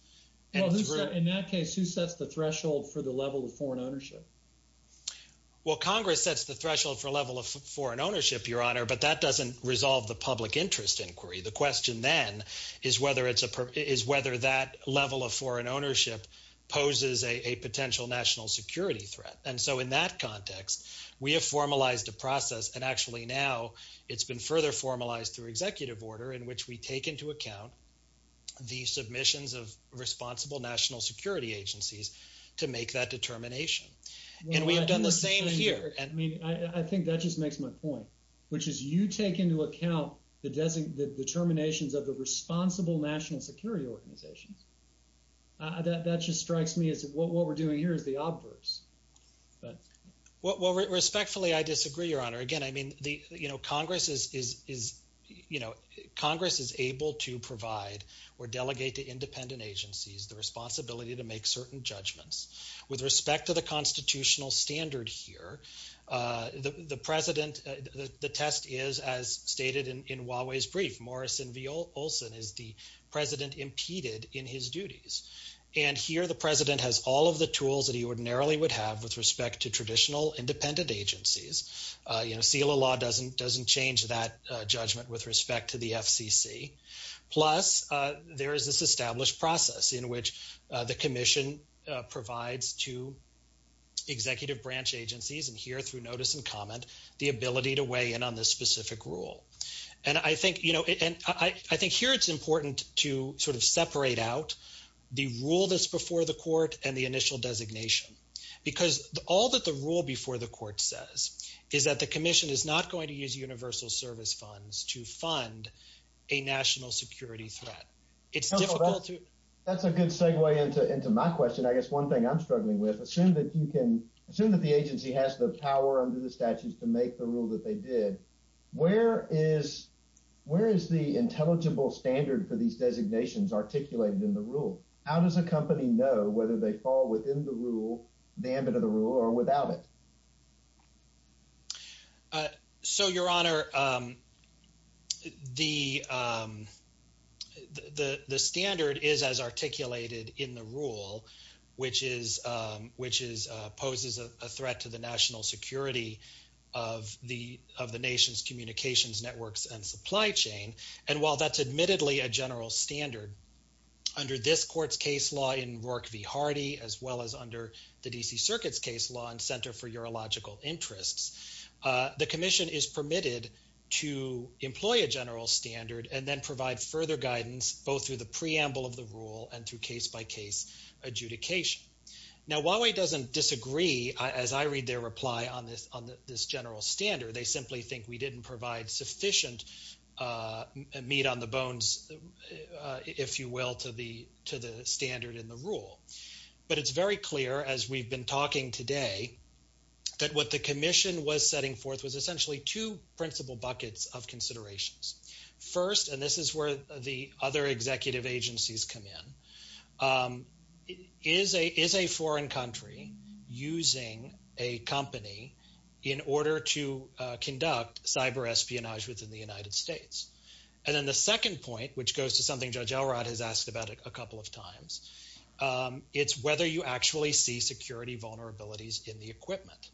Well, in that case, who sets the threshold for the level of foreign ownership? Well, Congress sets the threshold for level of foreign ownership, your honor, but that doesn't resolve the public interest inquiry. The question then is whether it's a, is whether that level of national security is a threat. And so, in that context, we have formalized a process, and actually now it's been further formalized through executive order in which we take into account the submissions of responsible national security agencies to make that determination. And we have done the same here. I mean, I think that just makes my point, which is you take into account the determinations of the responsible national security organizations. Uh, that, that just strikes me as what we're doing here is the obverse. Well, respectfully, I disagree, your honor. Again, I mean, the, you know, Congress is, is, is, you know, Congress is able to provide or delegate to independent agencies the responsibility to make certain judgments. With respect to the constitutional standard here, uh, the, the president, uh, the, the test is, as stated in, in Huawei's brief, Morrison v. Olson is the president impeded in his duties. And here the president has all of the tools that he ordinarily would have with respect to traditional independent agencies. Uh, you know, SELA law doesn't, doesn't change that, uh, judgment with respect to the FCC. Plus, uh, there is this established process in which, uh, the commission, uh, provides to executive branch agencies, and here through notice and comment, the ability to weigh in on this specific rule. And I think, you know, and I, I think here it's important to sort of separate out the rule that's before the court and the initial designation, because all that the rule before the court says is that the commission is not going to use universal service funds to fund a national security threat. It's difficult to. That's a good segue into, into my question. I guess one thing I'm struggling with, assume that you can assume that the agency has the power under the statutes to make the rule that they did. Where is, where is the intelligible standard for these designations articulated in the rule? How does a company know whether they fall within the rule, the ambit of the rule or without it? Uh, so your honor, um, the, um, the, the standard is as articulated in the rule, which is, um, which is, uh, poses a threat to the national security of the, of the nation's communications networks and supply chain. And while that's admittedly a general standard under this court's case law in Rourke v. Hardy, as well as under the DC circuit's case law and center for urological interests, uh, the commission is permitted to employ a general standard and then provide further guidance, both through the preamble of the rule and through case by case adjudication. Now, Huawei doesn't disagree as I read their reply on this, on this general standard. They simply think we didn't provide sufficient, uh, meat on the bones, uh, if you will, to the, to the standard in the rule, but it's very clear as we've been talking today that what the commission was setting forth was essentially two principal buckets of considerations. First, and this is where the other executive agencies come in, um, is a, is a foreign country using a company in order to, uh, conduct cyber espionage within the United States? And then the second point, which goes to something Judge Elrod has asked about a couple of times, um, it's whether you actually see security vulnerabilities in the equipment.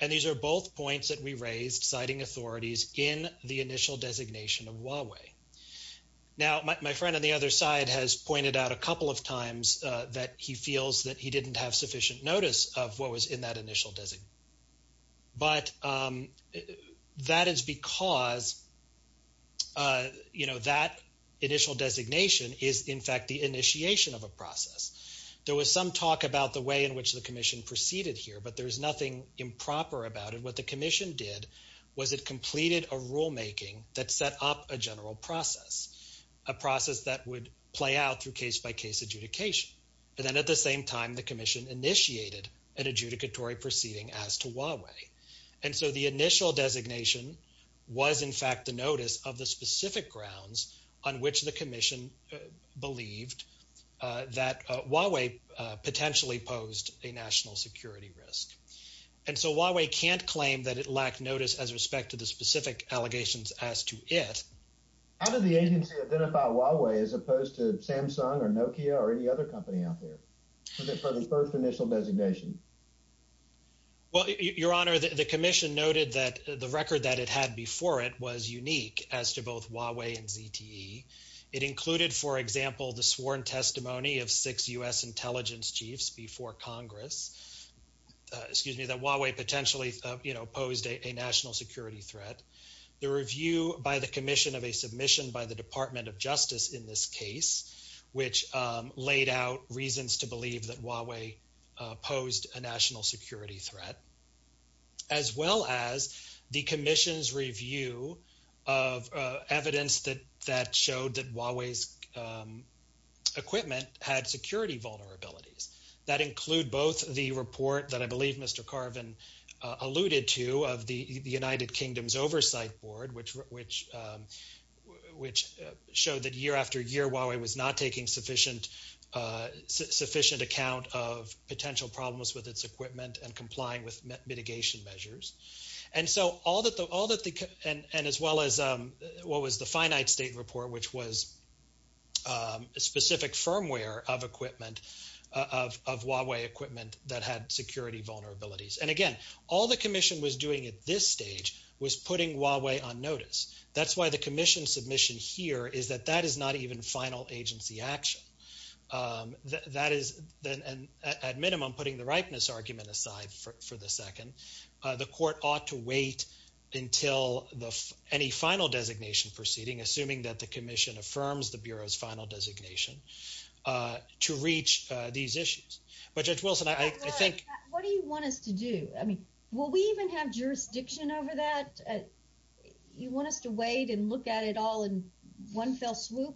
And these are both points that we raised citing authorities in the initial designation of Huawei. Now, my friend on the other side has pointed out a couple of times, uh, that he feels that he didn't have sufficient notice of what was in that initial design. But, um, that is because, uh, you know, that initial designation is in fact the initiation of a process. There was some talk about the way in which the commission proceeded here, but there's nothing improper about it. What the commission did was it completed a rule making that set up a general process, a process that would play out through case by case adjudication. And then at the same time, the commission initiated an adjudicatory proceeding as to Huawei. And so the initial designation was in fact the notice of the specific grounds on which the commission, uh, believed, uh, that, uh, Huawei, uh, potentially posed a national security risk. And so Huawei can't claim that it lacked notice as respect to the specific allegations as to it. How did the agency identify Huawei as opposed to Samsung or Nokia or any other company out there for the first initial designation? Well, your honor, the commission noted that the record that it had before it was unique as to both Huawei and ZTE. It included, for example, the sworn testimony of six intelligence chiefs before Congress, uh, excuse me, that Huawei potentially, uh, you know, posed a national security threat. The review by the commission of a submission by the Department of Justice in this case, which, um, laid out reasons to believe that Huawei, uh, posed a national security threat, as well as the commission's review of, uh, evidence that, that showed that Huawei's, um, equipment had security vulnerabilities. That include both the report that I believe Mr. Carvin, uh, alluded to of the United Kingdom's oversight board, which, which, um, which, uh, showed that year after year Huawei was not taking sufficient, uh, sufficient account of potential problems with its equipment and complying with mitigation measures. And so, all that the, all that the, and, and as well as, um, what was the finite state report, which was, um, specific firmware of equipment, uh, of, of Huawei equipment that had security vulnerabilities. And again, all the commission was doing at this stage was putting Huawei on notice. That's why the commission submission here is that that is not even final agency action. Um, that is then, and at minimum putting the ripeness argument aside for, for the second, uh, the court ought to wait until the, any final designation proceeding, assuming that the commission affirms the Bureau's final designation, uh, to reach, uh, these issues. But Judge Wilson, I, I think. What do you want us to do? I mean, will we even have jurisdiction over that? Uh, you want us to wait and look at it all in one fell swoop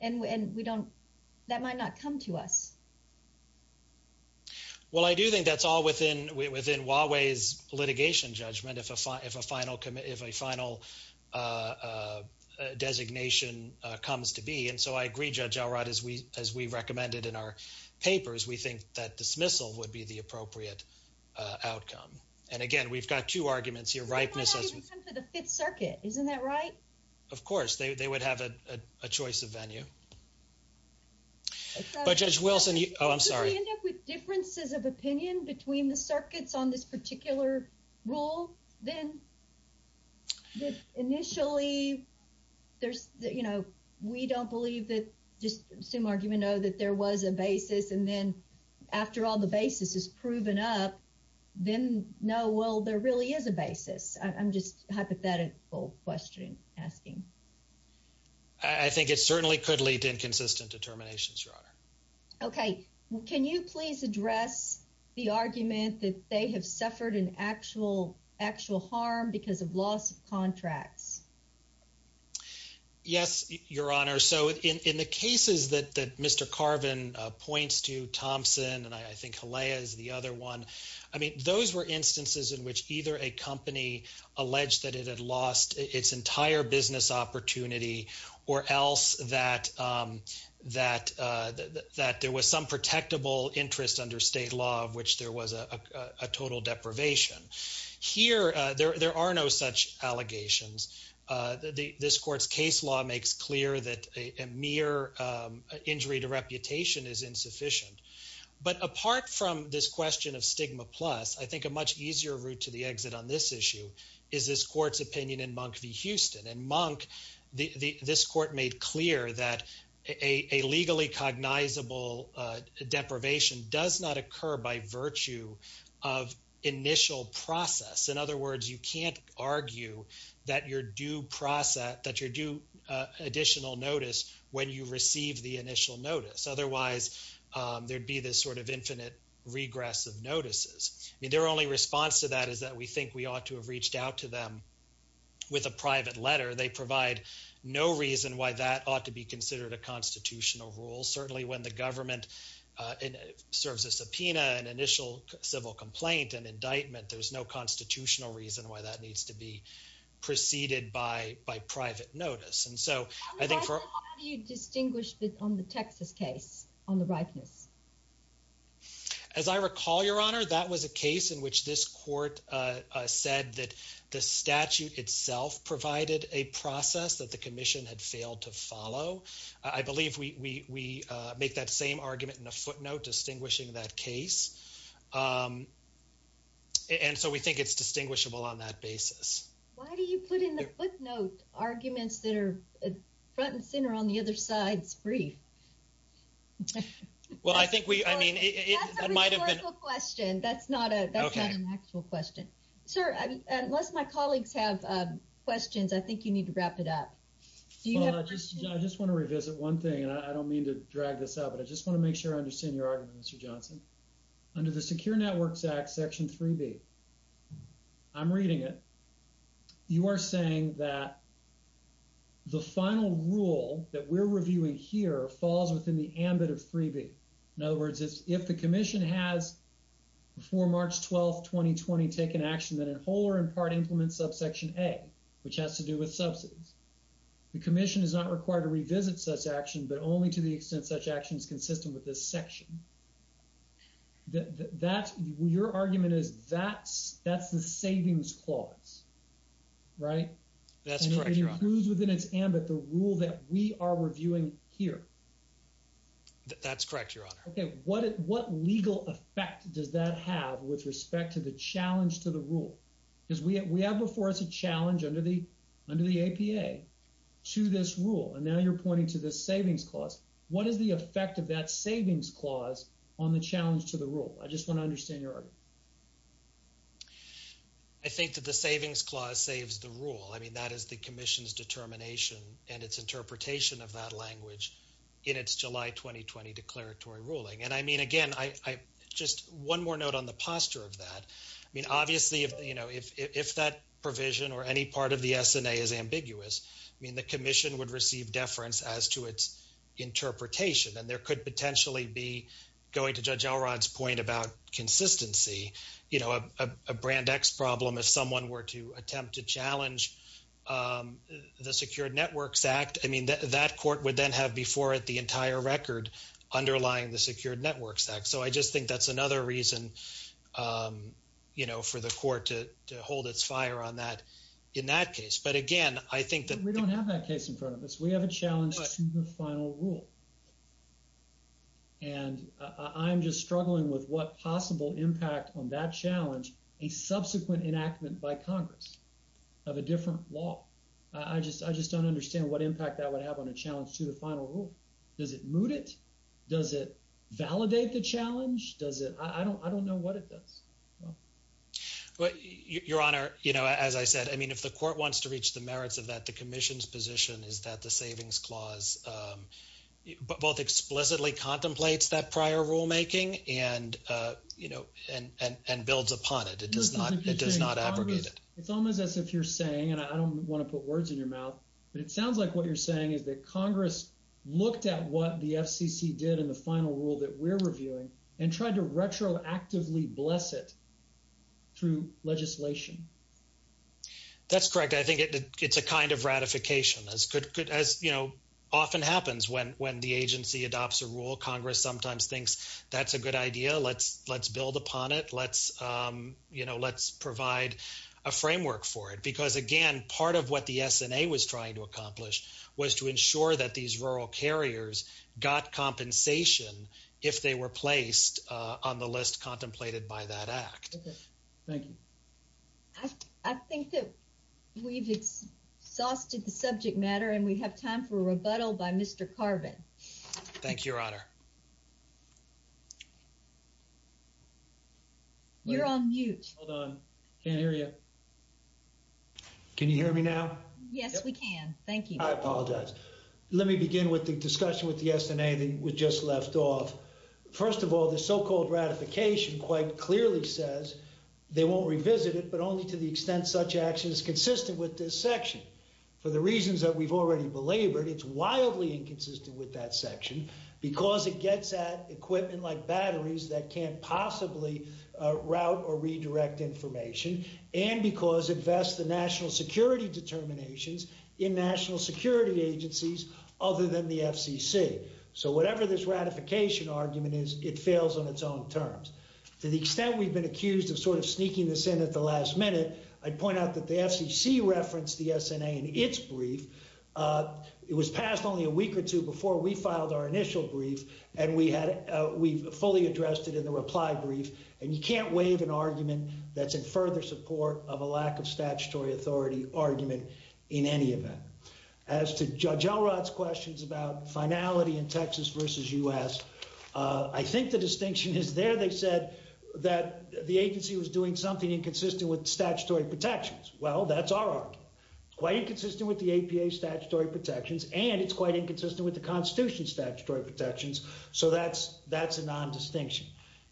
and we, and we don't, that might not come to us. Well, I do think that's all within, within Huawei's litigation judgment. If a, if a final, if a final, uh, uh, uh, designation, uh, comes to be. And so I agree, Judge Elrod, as we, as we recommended in our papers, we think that dismissal would be the appropriate, uh, outcome. And again, we've got two arguments here, ripeness. The Fifth Circuit, isn't that right? Of course, they, they would have a, a choice of venue. But Judge Wilson, oh, I'm sorry. If we end up with differences of opinion between the circuits on this particular rule, then initially there's, you know, we don't believe that just assume argument, know that there was a basis. And then after all the basis is proven up, then know, well, there really is a basis. I'm just hypothetical question asking. I think it certainly could lead to inconsistent determinations, Your Honor. Okay. Can you please address the argument that they have suffered an actual, actual harm because of loss of contracts? Yes, Your Honor. So in, in the cases that, that Mr. Carvin, uh, points to Thompson, and I think Haleah is the other one. I mean, those were instances in which either a company alleged that it had lost its entire business opportunity or else that, um, that, uh, that there was some protectable interest under state law of which there was a, a, a total deprivation. Here, uh, there, there are no such allegations. Uh, the, this court's case law makes clear that a mere, um, injury to reputation is insufficient. But apart from this question of stigma plus, I think a much easier route to the exit on this issue is this court's opinion in Monk v. Houston. In Monk, the, the, this court made clear that a, a legally cognizable, uh, deprivation does not occur by virtue of initial process. In other words, you can't argue that your due process, that your due, uh, additional notice when you receive the initial notice. Otherwise, um, there'd be this sort of infinite regress of notices. I mean, their only response to that is that we think we ought to have reached out to them with a private letter. They provide no reason why that ought to be considered a constitutional rule. Certainly when the government, uh, in, serves a subpoena, an initial civil complaint, an indictment, there's no constitutional reason why that needs to be preceded by, by private notice. And so I think for how do you distinguish on the Texas case on the ripeness? As I recall, your honor, that was a case in which this court, uh, uh, said that the statute itself provided a process that the commission had failed to follow. I believe we, we, uh, make that same argument in a footnote distinguishing that case. Um, and so we think it's distinguishable on that basis. Why do you put in the footnote arguments that are front and center on the other side's brief? Well, I think we, I mean, it might've been a question. That's not a, that's not an actual question, sir. Unless my colleagues have questions, I think you need to wrap it up. I just want to revisit one thing and I don't mean to drag this out, but I just want to make sure I 3B. I'm reading it. You are saying that the final rule that we're reviewing here falls within the ambit of 3B. In other words, if the commission has before March 12th, 2020 taken action, then in whole or in part implement subsection a, which has to do with subsidies, the commission is not required to revisit such action, but only to the extent such action is consistent with this that's, that's the savings clause, right? That's correct. And it includes within its ambit the rule that we are reviewing here. That's correct. Your honor. Okay. What, what legal effect does that have with respect to the challenge to the rule? Because we, we have before us a challenge under the, under the APA to this rule. And now you're pointing to this savings clause. What is the effect of that savings clause on the challenge to the rule? I just want to understand your argument. I think that the savings clause saves the rule. I mean, that is the commission's determination and its interpretation of that language in its July 2020 declaratory ruling. And I mean, again, I, I just one more note on the posture of that. I mean, obviously if, you know, if, if that provision or any part of the SNA is ambiguous, I mean, the commission would receive deference as to its interpretation and there could potentially be going to judge Elrod's point about consistency, you know, a, a, a brand X problem. If someone were to attempt to challenge the secured networks act, I mean, that, that court would then have before it the entire record underlying the secured networks act. So I just think that's another reason, you know, for the court to, to hold its fire on that in that case. But again, I think that we don't have that case in front of us. We have a challenge to the final rule. And I'm just struggling with what possible impact on that challenge, a subsequent enactment by Congress of a different law. I just, I just don't understand what impact that would have on a challenge to the final rule. Does it mood it? Does it validate the challenge? Does it, I don't, I don't know what it does. Well, your honor, you know, as I said, I mean, the court wants to reach the merits of that, the commission's position is that the savings clause both explicitly contemplates that prior rulemaking and you know, and, and, and builds upon it. It does not, it does not abrogate it. It's almost as if you're saying, and I don't want to put words in your mouth, but it sounds like what you're saying is that Congress looked at what the FCC did in the final rule that we're reviewing and tried to retroactively bless it through legislation. That's correct. I think it's a kind of ratification as could, could, as you know, often happens when, when the agency adopts a rule, Congress sometimes thinks that's a good idea. Let's, let's build upon it. Let's you know, let's provide a framework for it because again, part of what the SNA was trying to accomplish was to ensure that these rural carriers got compensation if they were placed on the list contemplated by that act. Thank you. I think that we've exhausted the subject matter and we have time for a rebuttal by Mr. Carvin. Thank you, your honor. You're on mute. Hold on. Can't hear you. Can you hear me now? Yes, we can. Thank you. I apologize. Let me begin with the discussion with the SNA that was just left off. First of all, the so-called ratification quite clearly says they won't revisit it, but only to the extent such action is consistent with this section. For the reasons that we've already belabored, it's wildly inconsistent with that section because it gets at equipment like batteries that can't possibly route or redirect information. And because it vests the national security determinations in national security agencies other than the FCC. So whatever this ratification argument is, it fails on its own terms. To the extent we've been accused of sort of sneaking this in at the last minute, I'd point out that the FCC referenced the SNA in its brief. It was passed only a week or two before we filed our initial brief. And we had, we've fully addressed it in the reply brief. And you can't waive an argument that's in further support of a lack of statutory authority argument in any event. As to Judge Elrod's questions about finality in Texas versus U.S., I think the distinction is there. They said that the agency was doing something inconsistent with statutory protections. Well, that's our argument. Quite inconsistent with the APA statutory protections, and it's quite inconsistent with the Constitution's statutory protections. So that's, that's a non-distinction.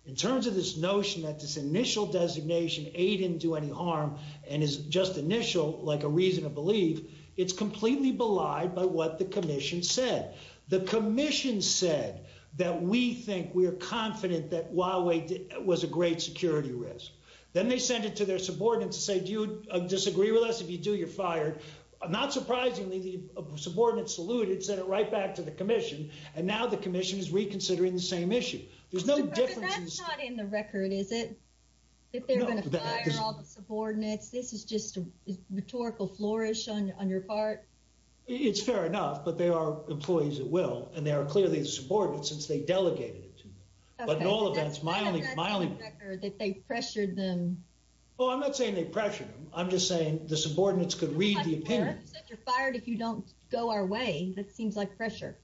In terms of this notion that this initial designation aid didn't do any harm and is just initial, like a reason to believe, it's completely belied by what the commission said. The commission said that we think we are confident that Huawei was a great security risk. Then they sent it to their subordinates to say, do you disagree with us? If you do, you're fired. Not surprisingly, the subordinates saluted, sent it right back to the commission. And now the commission is reconsidering the same issue. There's no difference. That's not in the record, is it? That they're going to fire all the subordinates? This is just a rhetorical flourish on your part? It's fair enough, but they are employees at will, and they are clearly subordinates since they delegated it to them. But in all events, my only... That's not in the record that they pressured them. Oh, I'm not saying they pressured them. I'm just saying the subordinates could read the opinion. You said you're fired if you don't go our way. That seems like pressure.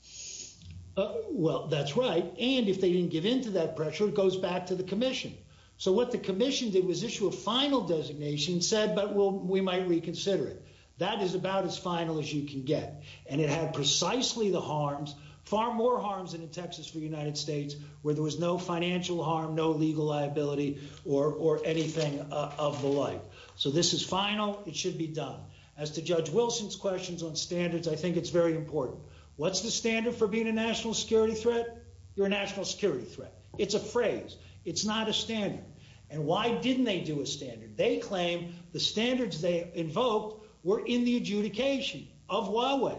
Well, that's right. And if they didn't give in to that pressure, it goes back to the commission. So what the commission did was issue a final designation and said, well, we might reconsider it. That is about as final as you can get. And it had precisely the harms, far more harms than in Texas for the United States, where there was no financial harm, no legal liability or anything of the like. So this is final. It should be done. As to Judge Wilson's questions on standards, I think it's very important. What's the standard for being a national security threat? You're a national security threat. It's a phrase. It's not a standard. And why didn't they do a standard? They claim the standards they invoked were in the adjudication of Huawei.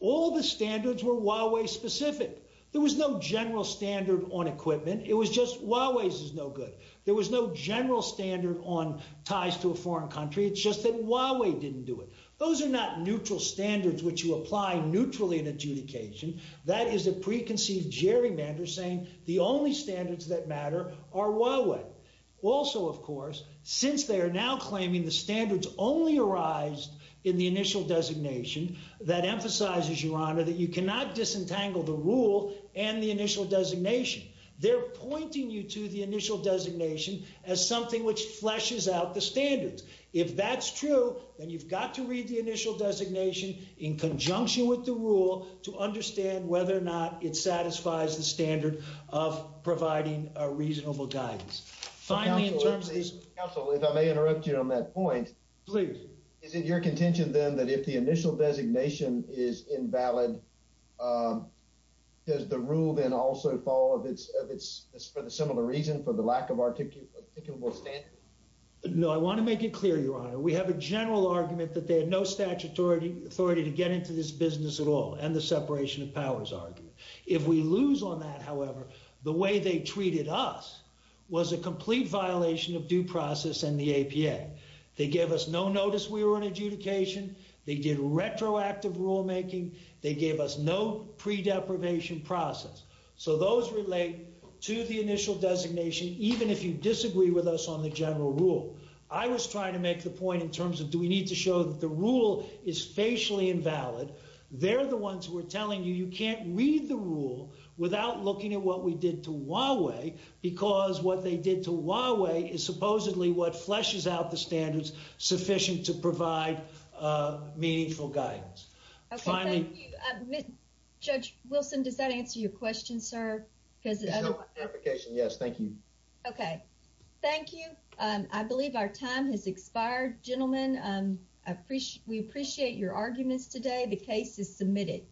All the standards were Huawei-specific. There was no general standard on equipment. It was just Huawei's is no good. There was no general standard on ties to a foreign country. It's just that Huawei didn't do it. Those are not neutral standards which you apply neutrally in adjudication. That is a preconceived gerrymander saying the only standards that matter are Huawei. Also, of course, since they are now claiming the standards only arise in the initial designation, that emphasizes, Your Honor, that you cannot disentangle the rule and the initial designation. They're pointing you to the initial designation as something which fleshes out the standards. If that's true, then you've got to read the initial designation in conjunction with the rule to understand whether or not it satisfies the standard of providing a reasonable guidance. Finally, in terms of... Counsel, if I may interrupt you on that point. Please. Is it your contention, then, that if the initial designation is invalid, does the rule then also fall for the similar reason, for the lack of articulable standard? No, I want to make it clear, Your Honor. We have a general argument that there are no authority to get into this business at all, and the separation of powers argument. If we lose on that, however, the way they treated us was a complete violation of due process and the APA. They gave us no notice we were in adjudication. They did retroactive rulemaking. They gave us no pre-deprivation process. So those relate to the initial designation, even if you disagree with us on the general rule. I was trying to make the point in terms of, we need to show that the rule is facially invalid. They're the ones who are telling you, you can't read the rule without looking at what we did to Huawei, because what they did to Huawei is supposedly what fleshes out the standards sufficient to provide meaningful guidance. Okay, thank you. Judge Wilson, does that answer your question, sir? There's no clarification, yes. Thank you. Okay, thank you. I believe our time has expired. Gentlemen, we appreciate your arguments today. The case is submitted.